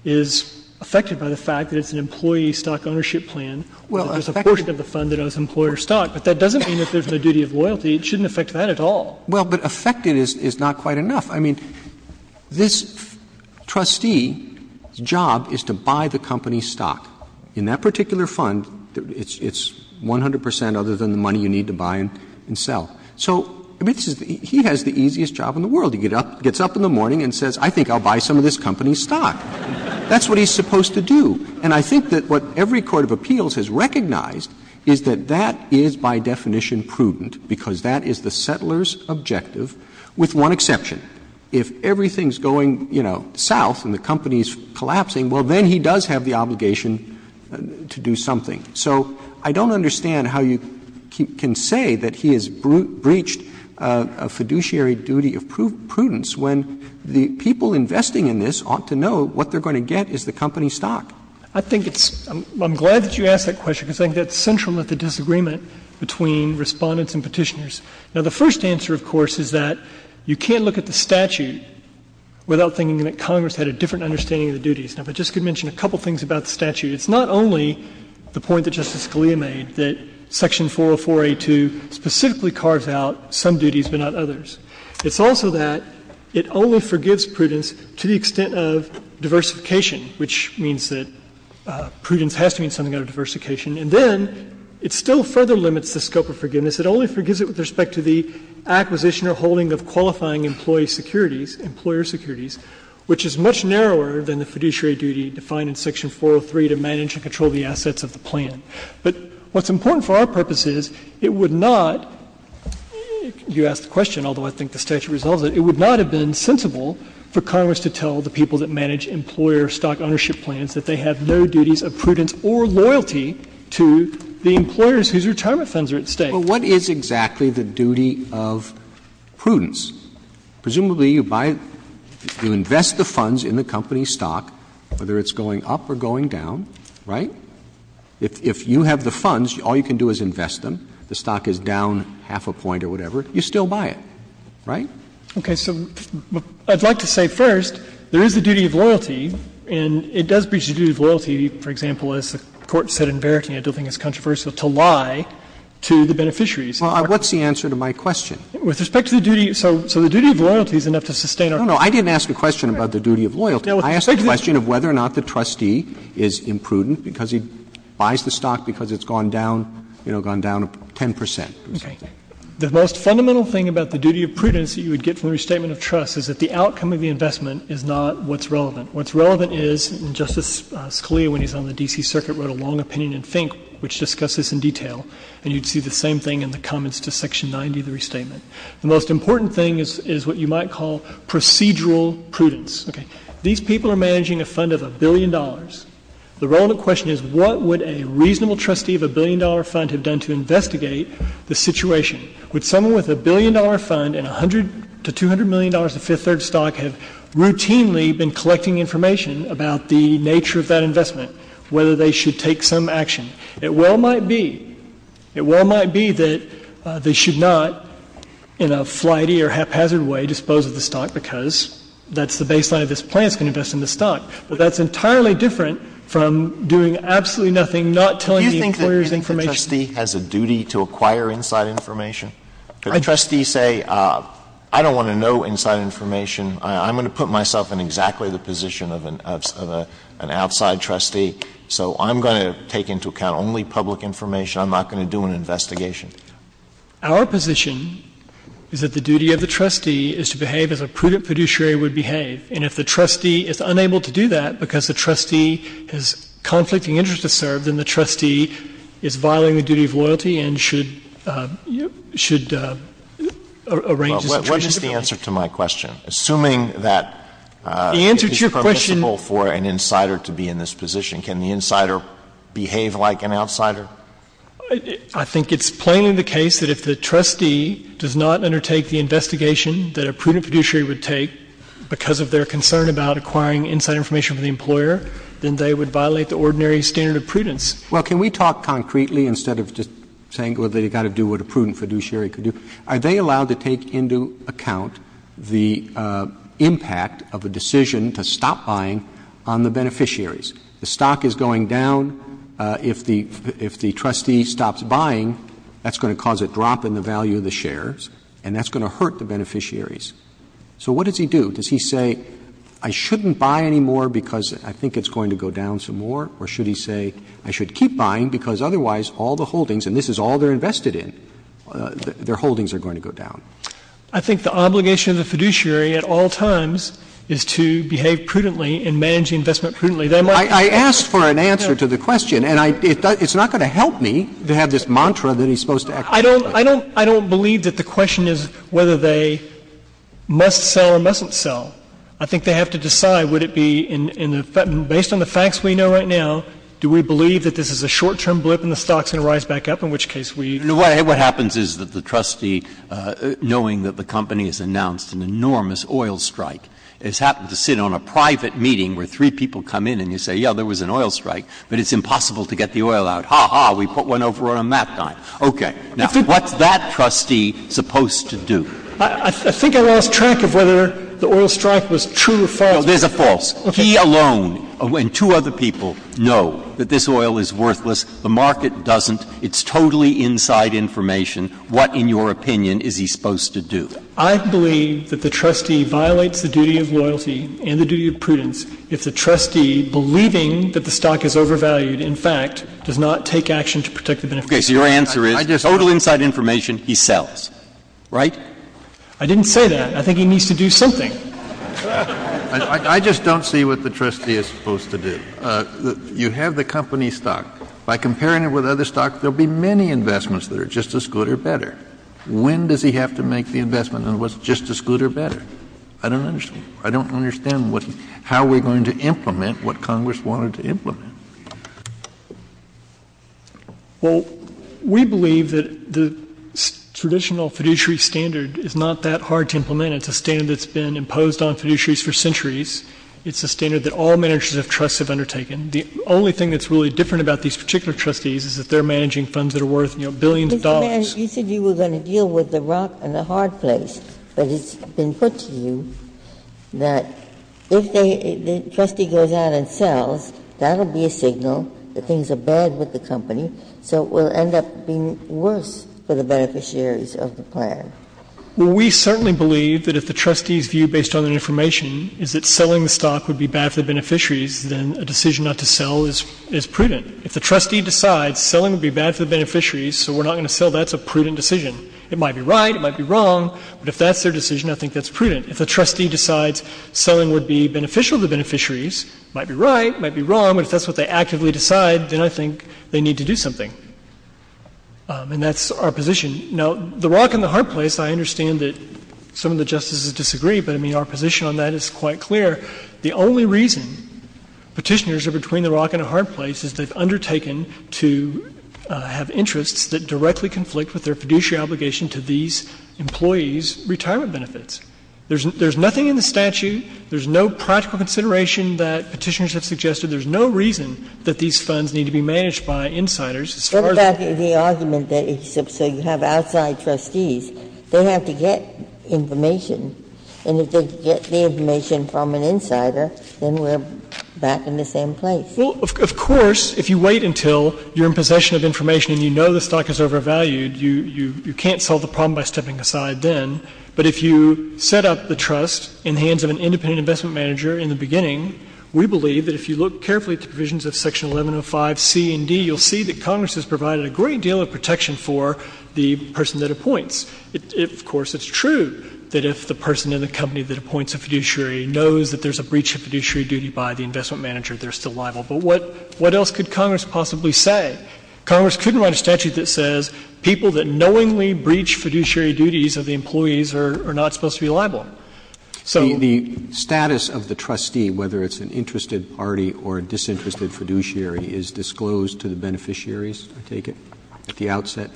is affected by the fact that it's an employee stock ownership plan, that there's a portion of the fund that owns employer stock, but that doesn't mean if there's no duty of loyalty, it shouldn't affect that at all. Well, but affected is not quite enough. I mean, this trustee's job is to buy the company's stock. In that particular fund, it's 100 percent other than the money you need to buy and sell. So he has the easiest job in the world. He gets up in the morning and says, I think I'll buy some of this company's stock. That's what he's supposed to do. And I think that what every court of appeals has recognized is that that is by definition prudent, because that is the settler's objective, with one exception. If everything's going, you know, south and the company's collapsing, well, then he does have the obligation to do something. So I don't understand how you can say that he has breached a fiduciary duty of prudence when the people investing in this ought to know what they're going to get is the company stock. I think it's — I'm glad that you asked that question, because I think that's central to the disagreement between Respondents and Petitioners. Now, the first answer, of course, is that you can't look at the statute without thinking that Congress had a different understanding of the duties. Now, if I just could mention a couple of things about the statute. It's not only the point that Justice Scalia made, that Section 404a2 specifically carves out some duties but not others. It's also that it only forgives prudence to the extent of diversification, which means that prudence has to mean something out of diversification. And then it still further limits the scope of forgiveness. It only forgives it with respect to the acquisition or holding of qualifying employee securities, employer securities, which is much narrower than the fiduciary duty defined in Section 403 to manage and control the assets of the plan. But what's important for our purposes, it would not — you asked the question, although I think the statute resolves it — it would not have been sensible for Congress to tell the people that manage employer stock ownership plans that they have no duties of prudence or loyalty to the employers whose retirement funds are at stake. But what is exactly the duty of prudence? Presumably, you buy — you invest the funds in the company's stock, whether it's going up or going down, right? If you have the funds, all you can do is invest them. If the stock is down half a point or whatever, you still buy it, right? Okay. So I'd like to say first, there is the duty of loyalty, and it does breach the duty of loyalty, for example, as the Court said in Verity, and I don't think it's controversial, to lie to the beneficiaries. Well, what's the answer to my question? With respect to the duty — so the duty of loyalty is enough to sustain our purpose. No, no. I didn't ask a question about the duty of loyalty. I asked a question of whether or not the trustee is imprudent because he buys the stock because it's gone down, you know, gone down 10 percent. Okay. The most fundamental thing about the duty of prudence that you would get from the restatement of trust is that the outcome of the investment is not what's relevant. What's relevant is, and Justice Scalia, when he was on the D.C. Circuit, wrote a long opinion in FINK, which discusses this in detail, and you'd see the same thing in the comments to Section 90 of the restatement. The most important thing is what you might call procedural prudence. Okay. These people are managing a fund of a billion dollars. The relevant question is what would a reasonable trustee of a billion-dollar fund have done to investigate the situation? Would someone with a billion-dollar fund and $100 to $200 million of fifth-third stock have routinely been collecting information about the nature of that investment, whether they should take some action? It well might be. It well might be that they should not, in a flighty or haphazard way, dispose of the stock because that's the baseline of this plan is to invest in the stock. But that's entirely different from doing absolutely nothing, not telling the employer's information. Alito, does the trustee have a duty to acquire inside information? Could a trustee say, I don't want to know inside information, I'm going to put myself in exactly the position of an outside trustee, so I'm going to take into account only public information, I'm not going to do an investigation? Our position is that the duty of the trustee is to behave as a prudent fiduciary would behave. And if the trustee is unable to do that because the trustee has conflicting interests to serve, then the trustee is violating the duty of loyalty and should arrange his attorney's appointment. Alito, what is the answer to my question, assuming that it is permissible for an insider to be in this position? Can the insider behave like an outsider? I think it's plainly the case that if the trustee does not undertake the investigation that a prudent fiduciary would take because of their concern about acquiring inside information for the employer, then they would violate the ordinary standard of prudence. Roberts. Well, can we talk concretely, instead of just saying, well, they've got to do what a prudent fiduciary could do? Are they allowed to take into account the impact of a decision to stop buying on the beneficiaries? The stock is going down. If the trustee stops buying, that's going to cause a drop in the value of the shares, and that's going to hurt the beneficiaries. So what does he do? Does he say, I shouldn't buy anymore because I think it's going to go down some more, or should he say, I should keep buying because otherwise all the holdings and this is all they're invested in, their holdings are going to go down? I think the obligation of the fiduciary at all times is to behave prudently and manage the investment prudently. They might not. I asked for an answer to the question, and it's not going to help me to have this mantra that he's supposed to act prudently. I don't believe that the question is whether they must sell or mustn't sell. I think they have to decide, would it be in the — based on the facts we know right now, do we believe that this is a short-term blip and the stock's going to rise back up, in which case we — What happens is that the trustee, knowing that the company has announced an enormous oil strike, has happened to sit on a private meeting where three people come in and you say, yeah, there was an oil strike, but it's impossible to get the oil out. Ha, ha, we put one over on a map time. Okay. Now, what's that trustee supposed to do? I think I lost track of whether the oil strike was true or false. No, there's a false. He alone, and two other people, know that this oil is worthless. The market doesn't. It's totally inside information. What, in your opinion, is he supposed to do? I believe that the trustee violates the duty of loyalty and the duty of prudence if the trustee, believing that the stock is overvalued, in fact, does not take action to protect the beneficiary. Okay, so your answer is total inside information, he sells, right? I didn't say that. I think he needs to do something. I just don't see what the trustee is supposed to do. You have the company stock. By comparing it with other stocks, there'll be many investments that are just as good or better. When does he have to make the investment on what's just as good or better? I don't understand. I don't understand how we're going to implement what Congress wanted to implement. Well, we believe that the traditional fiduciary standard is not that hard to implement. It's a standard that's been imposed on fiduciaries for centuries. It's a standard that all managers of trusts have undertaken. The only thing that's really different about these particular trustees is that they're managing funds that are worth, you know, billions of dollars. Mr. Mann, you said you were going to deal with the rock and the hard place. But it's been put to you that if they — the trustee goes out and sells, that'll be a signal that things are bad with the company, so it will end up being worse for the beneficiaries of the plan. Well, we certainly believe that if the trustee's view, based on their information, is that selling the stock would be bad for the beneficiaries, then a decision not to sell is prudent. If the trustee decides selling would be bad for the beneficiaries, so we're not going to sell, that's a prudent decision. It might be right, it might be wrong, but if that's their decision, I think that's prudent. If the trustee decides selling would be beneficial to the beneficiaries, it might be right, it might be wrong, but if that's what they actively decide, then I think they need to do something. And that's our position. Now, the rock and the hard place, I understand that some of the justices disagree, but, I mean, our position on that is quite clear. The only reason Petitioners are between the rock and the hard place is they've undertaken to have interests that directly conflict with their fiduciary obligation to these employees' retirement benefits. There's nothing in the statute, there's no practical consideration that Petitioners have suggested, there's no reason that these funds need to be managed by insiders as far as we care. Ginsburg's argument is that if you have outside trustees, they have to get information. And if they get the information from an insider, then we're back in the same place. Well, of course, if you wait until you're in possession of information and you know the stock is overvalued, you can't solve the problem by stepping aside then. But if you set up the trust in the hands of an independent investment manager in the beginning, we believe that if you look carefully at the provisions of Section 1105C and D, you'll see that Congress has provided a great deal of protection for the person that appoints. Of course, it's true that if the person in the company that appoints a fiduciary knows that there's a breach of fiduciary duty by the investment manager, they're still liable. But what else could Congress possibly say? Congress couldn't write a statute that says people that knowingly breach fiduciary duties of the employees are not supposed to be liable. So the status of the trustee, whether it's an interested party or a disinterested fiduciary, is disclosed to the beneficiaries, I take it, at the outset.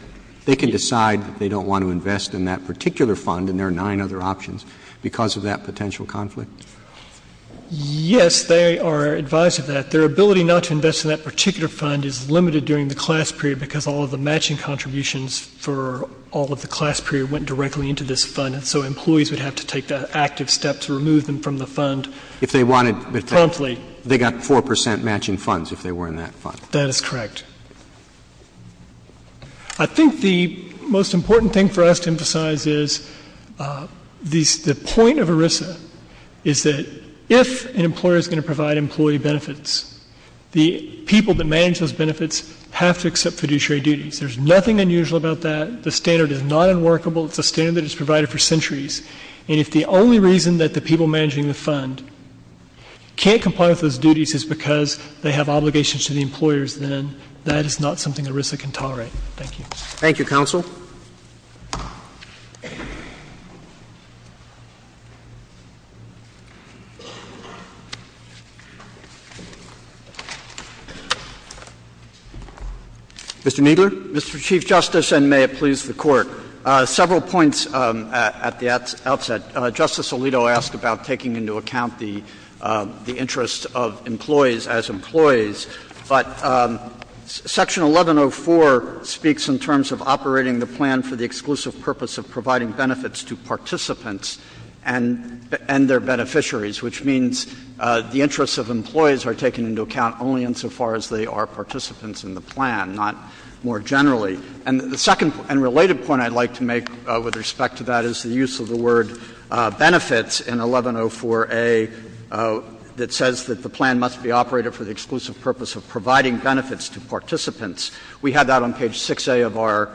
They can decide that they don't want to invest in that particular fund, and there are nine other options, because of that potential conflict? Yes, they are advised of that. Their ability not to invest in that particular fund is limited during the class period because all of the matching contributions for all of the class period went directly into this fund. So employees would have to take the active step to remove them from the fund promptly. But if they wanted to, they got 4 percent matching funds if they were in that fund. That is correct. I think the most important thing for us to emphasize is the point of ERISA is that if an employer is going to provide employee benefits, the people that manage those benefits have to accept fiduciary duties. There's nothing unusual about that. The standard is not unworkable. It's a standard that has been provided for centuries. And if the only reason that the people managing the fund can't comply with those duties is because they have obligations to the employers, then that is not something ERISA can tolerate. Thank you. Thank you, counsel. Mr. Kneedler? Mr. Chief Justice, and may it please the Court. Several points at the outset. Justice Alito asked about taking into account the interests of employees as employees. But Section 1104 speaks in terms of operating the plan for the exclusive purpose of providing benefits to participants and their beneficiaries, which means the interests of employees are taken into account only insofar as they are participants in the plan, not more generally. And the second and related point I'd like to make with respect to that is the use of the word benefits in 1104a that says that the plan must be operated for the exclusive purpose of providing benefits to participants. We have that on page 6a of our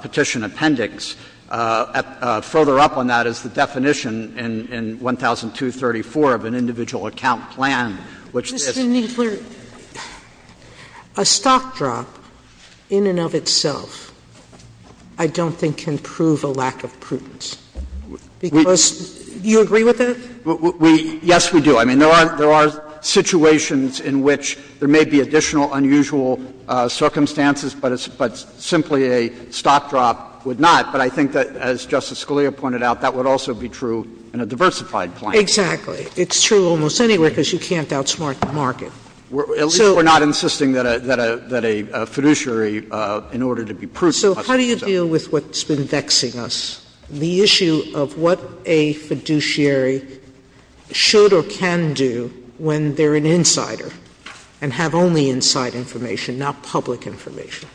petition appendix. Further up on that is the definition in 1002.34 of an individual account plan, which is the need for a stock drop in and of itself. I don't think can prove a lack of prudence. Because do you agree with that? We — yes, we do. I mean, there are situations in which there may be additional unusual circumstances, but simply a stock drop would not. But I think that, as Justice Scalia pointed out, that would also be true in a diversified plan. Exactly. It's true almost anywhere because you can't outsmart the market. So we're not insisting that a — that a fiduciary, in order to be prudent. So how do you deal with what's been vexing us, the issue of what a fiduciary should or can do when they're an insider and have only inside information, not public information?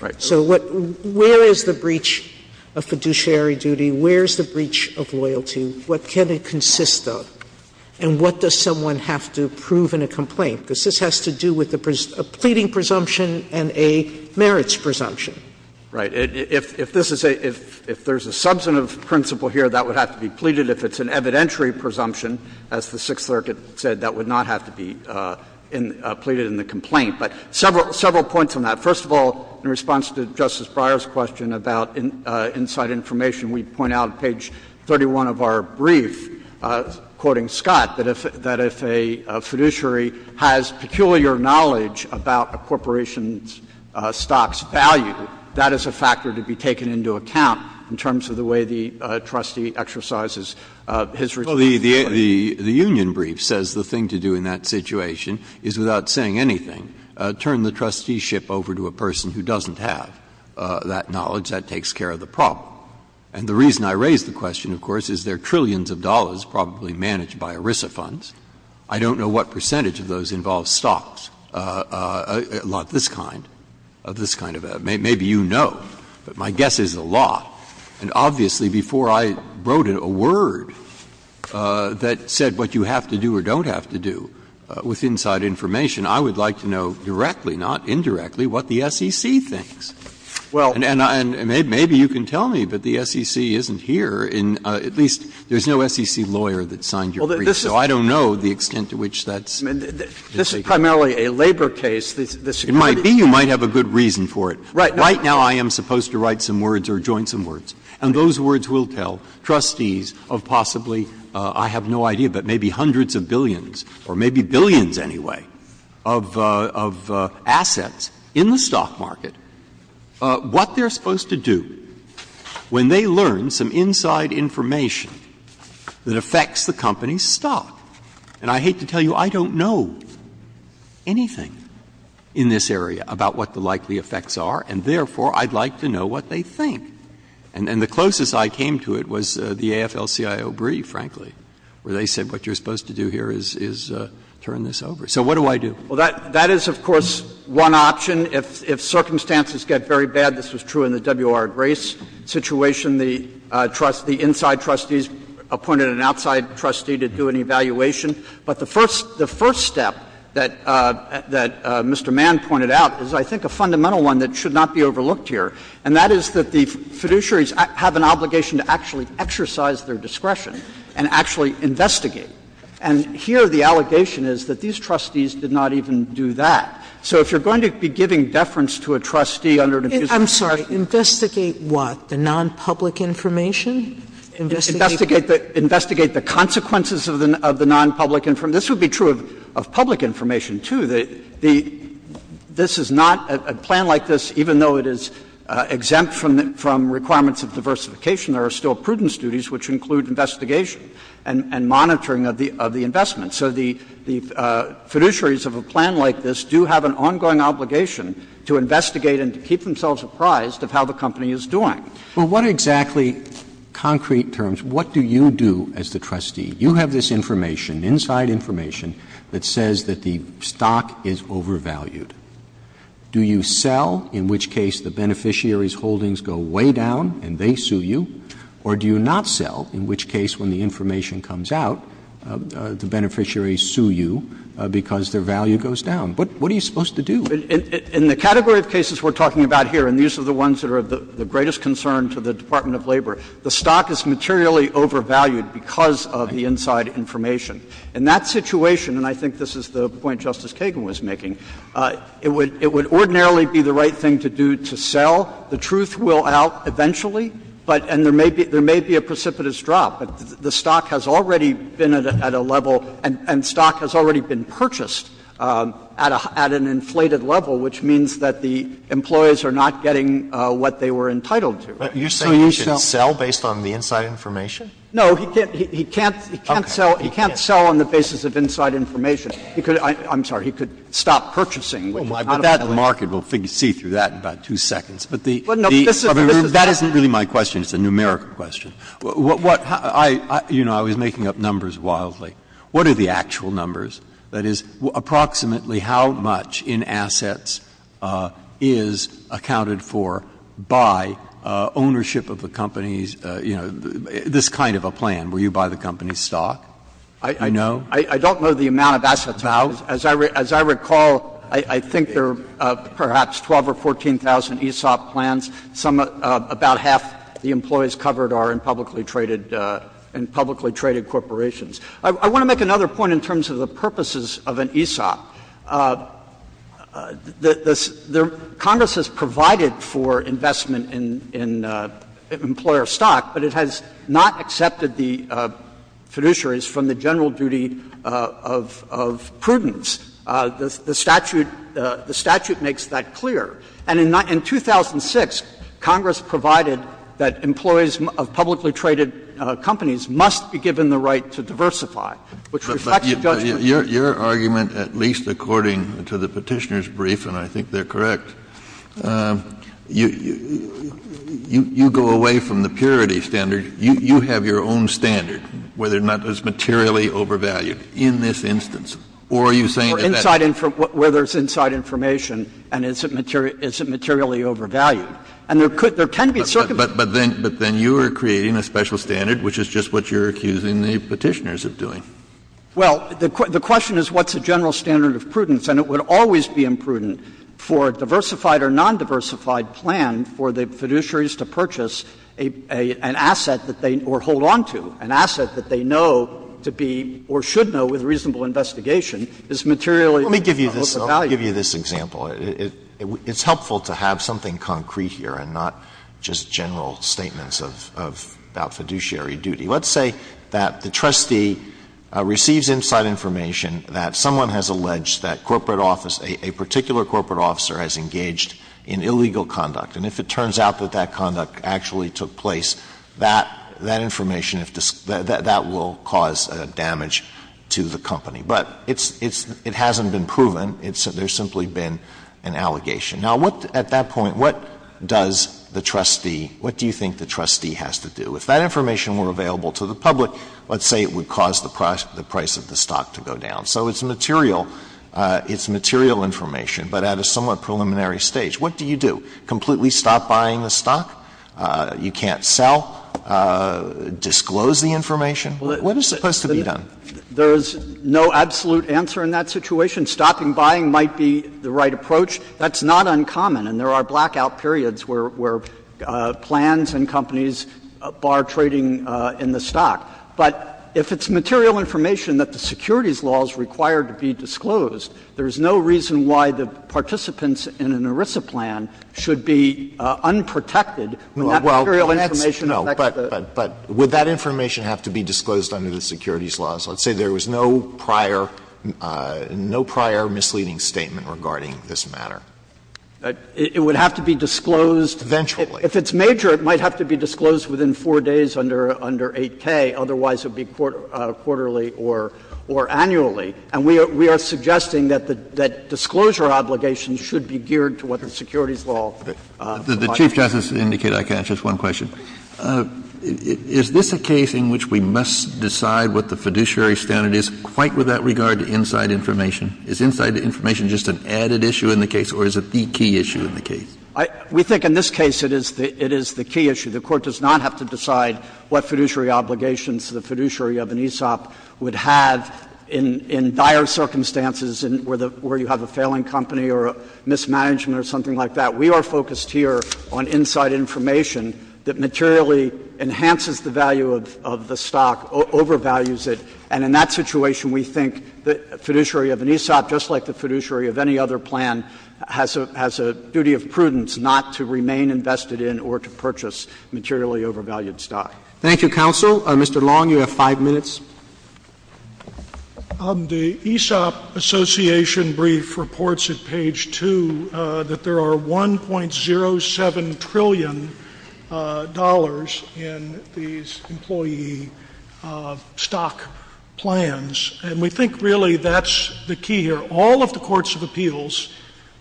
Right. So what — where is the breach of fiduciary duty? Where is the breach of loyalty? What can it consist of? And what does someone have to prove in a complaint? Because this has to do with a pleading presumption and a merits presumption. Right. If this is a — if there's a substantive principle here, that would have to be pleaded. If it's an evidentiary presumption, as the Sixth Circuit said, that would not have to be pleaded in the complaint. But several points on that. First of all, in response to Justice Breyer's question about inside information, we point out on page 31 of our brief, quoting Scott, that if — that if a fiduciary has peculiar knowledge about a corporation's stocks' value, that is a factor to be taken into account in terms of the way the trustee exercises his responsibility. Well, the — the union brief says the thing to do in that situation is, without saying anything, turn the trusteeship over to a person who doesn't have that knowledge. That takes care of the problem. And the reason I raise the question, of course, is there are trillions of dollars probably managed by ERISA funds. I don't know what percentage of those involve stocks, not this kind, this kind of — maybe you know. But my guess is a lot. And obviously, before I wrote a word that said what you have to do or don't have to do with inside information, I would like to know directly, not indirectly, what the SEC thinks. And maybe you can tell me, but the SEC isn't here in — at least, there's no SEC lawyer that signed your brief, so I don't know the extent to which that's — This is primarily a labor case. It might be. You might have a good reason for it. Right now, I am supposed to write some words or join some words. And those words will tell trustees of possibly — I have no idea, but maybe hundreds of billions or maybe billions, anyway, of assets in the stock market, what they're supposed to do when they learn some inside information that affects the company's stock. And I hate to tell you, I don't know anything in this area about what the likely effects are, and therefore, I'd like to know what they think. And the closest I came to it was the AFL-CIO brief, frankly, where they said what you're supposed to do here is turn this over. So what do I do? Well, that is, of course, one option. If circumstances get very bad, this was true in the WR Grace situation, the trust — the inside trustees appointed an outside trustee to do an evaluation. But the first step that Mr. Mann pointed out is, I think, a fundamental one that should not be overlooked here, and that is that the fiduciaries have an obligation to actually exercise their discretion and actually investigate. And here the allegation is that these trustees did not even do that. So if you're going to be giving deference to a trustee under an infusion of discretion — Sotomayor, investigate what? The nonpublic information? Investigate the consequences of the nonpublic information? This would be true of public information, too. This is not a plan like this, even though it is exempt from requirements of diversification, there are still prudence duties, which include investigation and monitoring of the investment. So the fiduciaries of a plan like this do have an ongoing obligation to investigate and to keep themselves apprised of how the company is doing. But what exactly, concrete terms, what do you do as the trustee? You have this information, inside information, that says that the stock is overvalued. Do you sell, in which case the beneficiary's holdings go way down and they sue you? Or do you not sell, in which case when the information comes out, the beneficiary sue you because their value goes down? What are you supposed to do? In the category of cases we're talking about here, and these are the ones that are of the greatest concern to the Department of Labor, the stock is materially overvalued because of the inside information. In that situation, and I think this is the point Justice Kagan was making, it would ordinarily be the right thing to do to sell. The truth will out eventually, but and there may be a precipitous drop. The stock has already been at a level and stock has already been purchased at an inflated level, which means that the employees are not getting what they were entitled to. So you should sell. Alitoson. But you're saying you should sell based on the inside information? No, he can't sell. He can't sell on the basis of inside information. He could, I'm sorry, he could stop purchasing. Breyer, but that market, we'll see through that in about two seconds. But the, the, that isn't really my question. It's a numerical question. What, what, I, you know, I was making up numbers wildly. What are the actual numbers? That is, approximately how much in assets is accounted for by ownership of the company's, you know, this kind of a plan, where you buy the company's stock? I, I don't know the amount of assets. As I, as I recall, I, I think there are perhaps 12 or 14,000 ESOP plans. Some, about half the employees covered are in publicly traded, in publicly traded corporations. I, I want to make another point in terms of the purposes of an ESOP. The, the, Congress has provided for investment in, in employer stock, but it has not accepted the fiduciaries from the general duty of, of prudence. The, the statute, the statute makes that clear. And in, in 2006, Congress provided that employees of publicly traded companies must be given the right to diversify, which reflects the judgment. Kennedy, your, your argument, at least according to the Petitioner's brief, and I think they're correct, you, you, you go away from the purity standard. You, you have your own standard, whether or not it's materially overvalued in this instance. Or are you saying that that's? Or inside, where there's inside information, and is it materially, is it materially overvalued? And there could, there can be circumstances. But, but then, but then you are creating a special standard, which is just what you're accusing the Petitioners of doing. Well, the, the question is what's the general standard of prudence? And it would always be imprudent for a diversified or nondiversified plan for the asset that they, or hold on to, an asset that they know to be, or should know with reasonable investigation is materially overvalued. Alito, let me give you this, let me give you this example. It, it, it's helpful to have something concrete here and not just general statements of, of about fiduciary duty. Let's say that the trustee receives inside information that someone has alleged that corporate office, a, a particular corporate officer has engaged in illegal conduct. And if it turns out that that conduct actually took place, that, that information if, that, that will cause damage to the company. But it's, it's, it hasn't been proven. It's, there's simply been an allegation. Now, what, at that point, what does the trustee, what do you think the trustee has to do? If that information were available to the public, let's say it would cause the price, the price of the stock to go down. So it's material, it's material information, but at a somewhat preliminary stage. What do you do? Completely stop buying the stock? You can't sell? Disclose the information? What is supposed to be done? Kneedlerer There is no absolute answer in that situation. Stopping buying might be the right approach. That's not uncommon, and there are blackout periods where, where plans and companies bar trading in the stock. But if it's material information that the securities law is required to be disclosed, there is no reason why the participants in an ERISA plan should be unprotected when that material information affects the stock. Alito But would that information have to be disclosed under the securities laws? Let's say there was no prior, no prior misleading statement regarding this matter. Kneedlerer It would have to be disclosed. Alito Eventually. Kneedlerer If it's major, it might have to be disclosed within 4 days under 8K. Otherwise, it would be quarterly or annually. And we are suggesting that disclosure obligations should be geared to what the securities law requires. Kennedy The Chief Justice indicated I can ask just one question. Is this a case in which we must decide what the fiduciary standard is, quite with that regard to inside information? Is inside information just an added issue in the case, or is it the key issue in the case? Kneedlerer We think in this case it is the key issue. The Court does not have to decide what fiduciary obligations the fiduciary of an ESOP would have in dire circumstances where you have a failing company or a mismanagement or something like that. We are focused here on inside information that materially enhances the value of the stock, overvalues it, and in that situation we think the fiduciary of an ESOP, just like the fiduciary of any other plan, has a duty of prudence not to remain invested in or to purchase materially overvalued stock. Roberts Thank you, counsel. Mr. Long, you have five minutes. Long, Jr. The ESOP Association brief reports at page 2 that there are $1.07 trillion in these employee stock plans, and we think really that's the key here. All of the courts of appeals,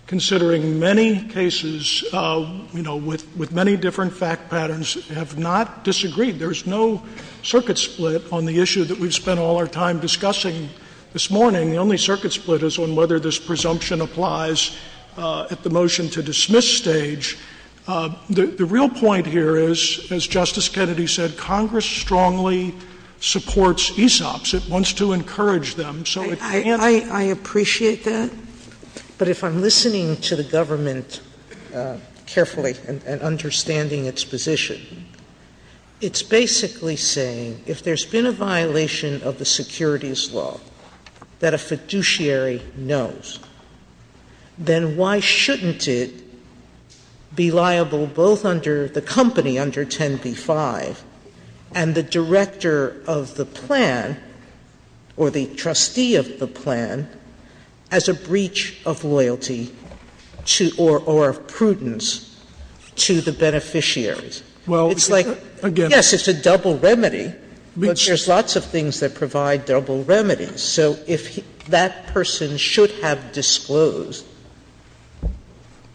considering many cases, you know, with many different fact patterns, have not disagreed. There's no circuit split on the issue that we've spent all our time discussing this morning. The only circuit split is on whether this presumption applies at the motion-to-dismiss stage. The real point here is, as Justice Kennedy said, Congress strongly supports ESOPs. It wants to encourage them, so it can't be— Sotomayor I appreciate that, but if I'm listening to the government carefully and understanding its position, it's basically saying if there's been a violation of the securities law that a fiduciary knows, then why shouldn't it be liable both under the company, under 10b-5, and the director of the plan or the trustee of the company? I mean, it's a double remedy, but there's lots of things that provide double remedies. So if that person should have disclosed—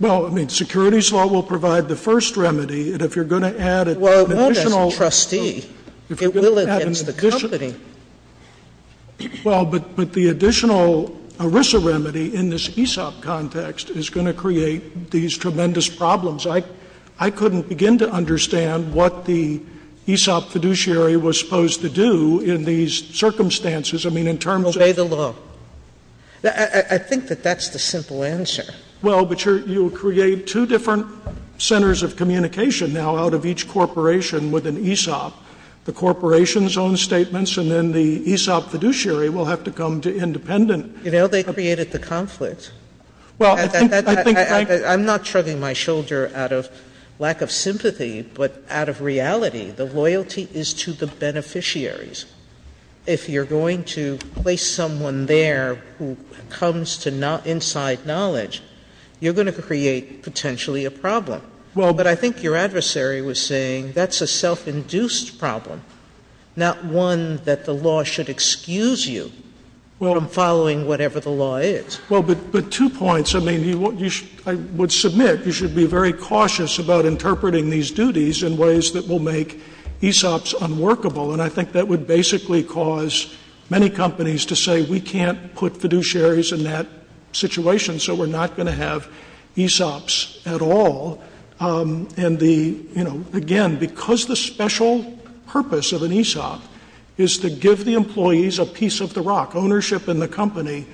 Well, I mean, securities law will provide the first remedy, and if you're going to add an additional— Well, not as a trustee. It will against the company. Well, but the additional ERISA remedy in this ESOP context is going to create these tremendous problems. I couldn't begin to understand what the ESOP fiduciary was supposed to do in these circumstances. I mean, in terms of— Obey the law. I think that that's the simple answer. Well, but you'll create two different centers of communication now out of each corporation with an ESOP, the corporation's own statements, and then the ESOP fiduciary will have to come to independent— You know, they created the conflict. Well, I think Frank— I'm not shrugging my shoulder out of lack of sympathy, but out of reality, the loyalty is to the beneficiaries. If you're going to place someone there who comes to inside knowledge, you're going to create potentially a problem. Well, but I think your adversary was saying that's a self-induced problem, not one that the law should excuse you from following whatever the law is. Well, but two points. I mean, I would submit you should be very cautious about interpreting these duties in ways that will make ESOPs unworkable. And I think that would basically cause many companies to say we can't put fiduciaries in that situation, so we're not going to have ESOPs at all. And the, you know, again, because the special purpose of an ESOP is to give the employees a piece of the rock, ownership in the company.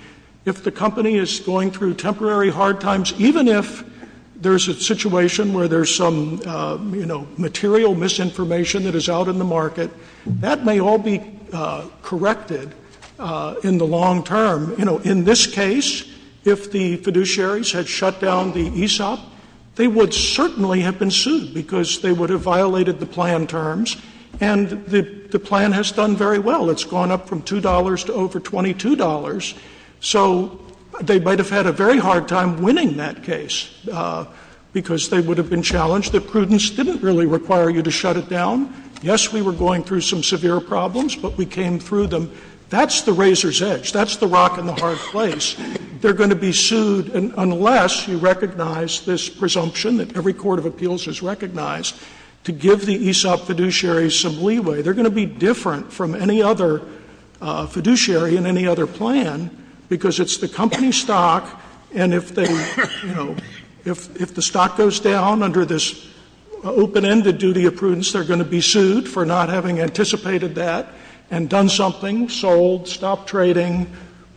If the company is going through temporary hard times, even if there's a situation where there's some, you know, material misinformation that is out in the market, that may all be corrected in the long term. You know, in this case, if the fiduciaries had shut down the ESOP, they would certainly have been sued because they would have violated the plan terms. And the plan has done very well. It's gone up from $2 to over $22. So they might have had a very hard time winning that case because they would have been challenged. The prudence didn't really require you to shut it down. Yes, we were going through some severe problems, but we came through them. That's the razor's edge. That's the rock in the hard place. They're going to be sued, and unless you recognize this presumption that every court of appeals has recognized, to give the ESOP fiduciaries some leeway, they're going to be different from any other fiduciary in any other plan because it's the company stock, and if they, you know, if the stock goes down under this open-ended duty of prudence, they're going to be sued for not having anticipated that and done something, sold, stopped trading,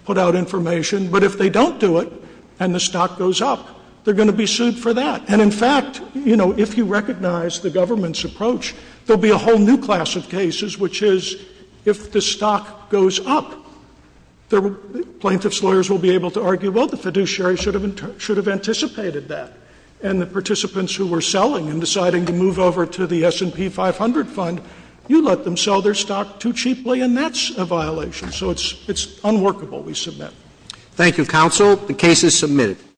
put out information. But if they don't do it and the stock goes up, they're going to be sued for that. And in fact, you know, if you recognize the government's approach, there will be a whole new class of cases, which is if the stock goes up, the plaintiff's lawyers will be able to argue, well, the fiduciary should have anticipated that, and the participants who were selling and deciding to move over to the S&P 500 fund, you let them sell their stock too cheaply, and that's a violation. So it's unworkable, we submit. Thank you, counsel. The case is submitted.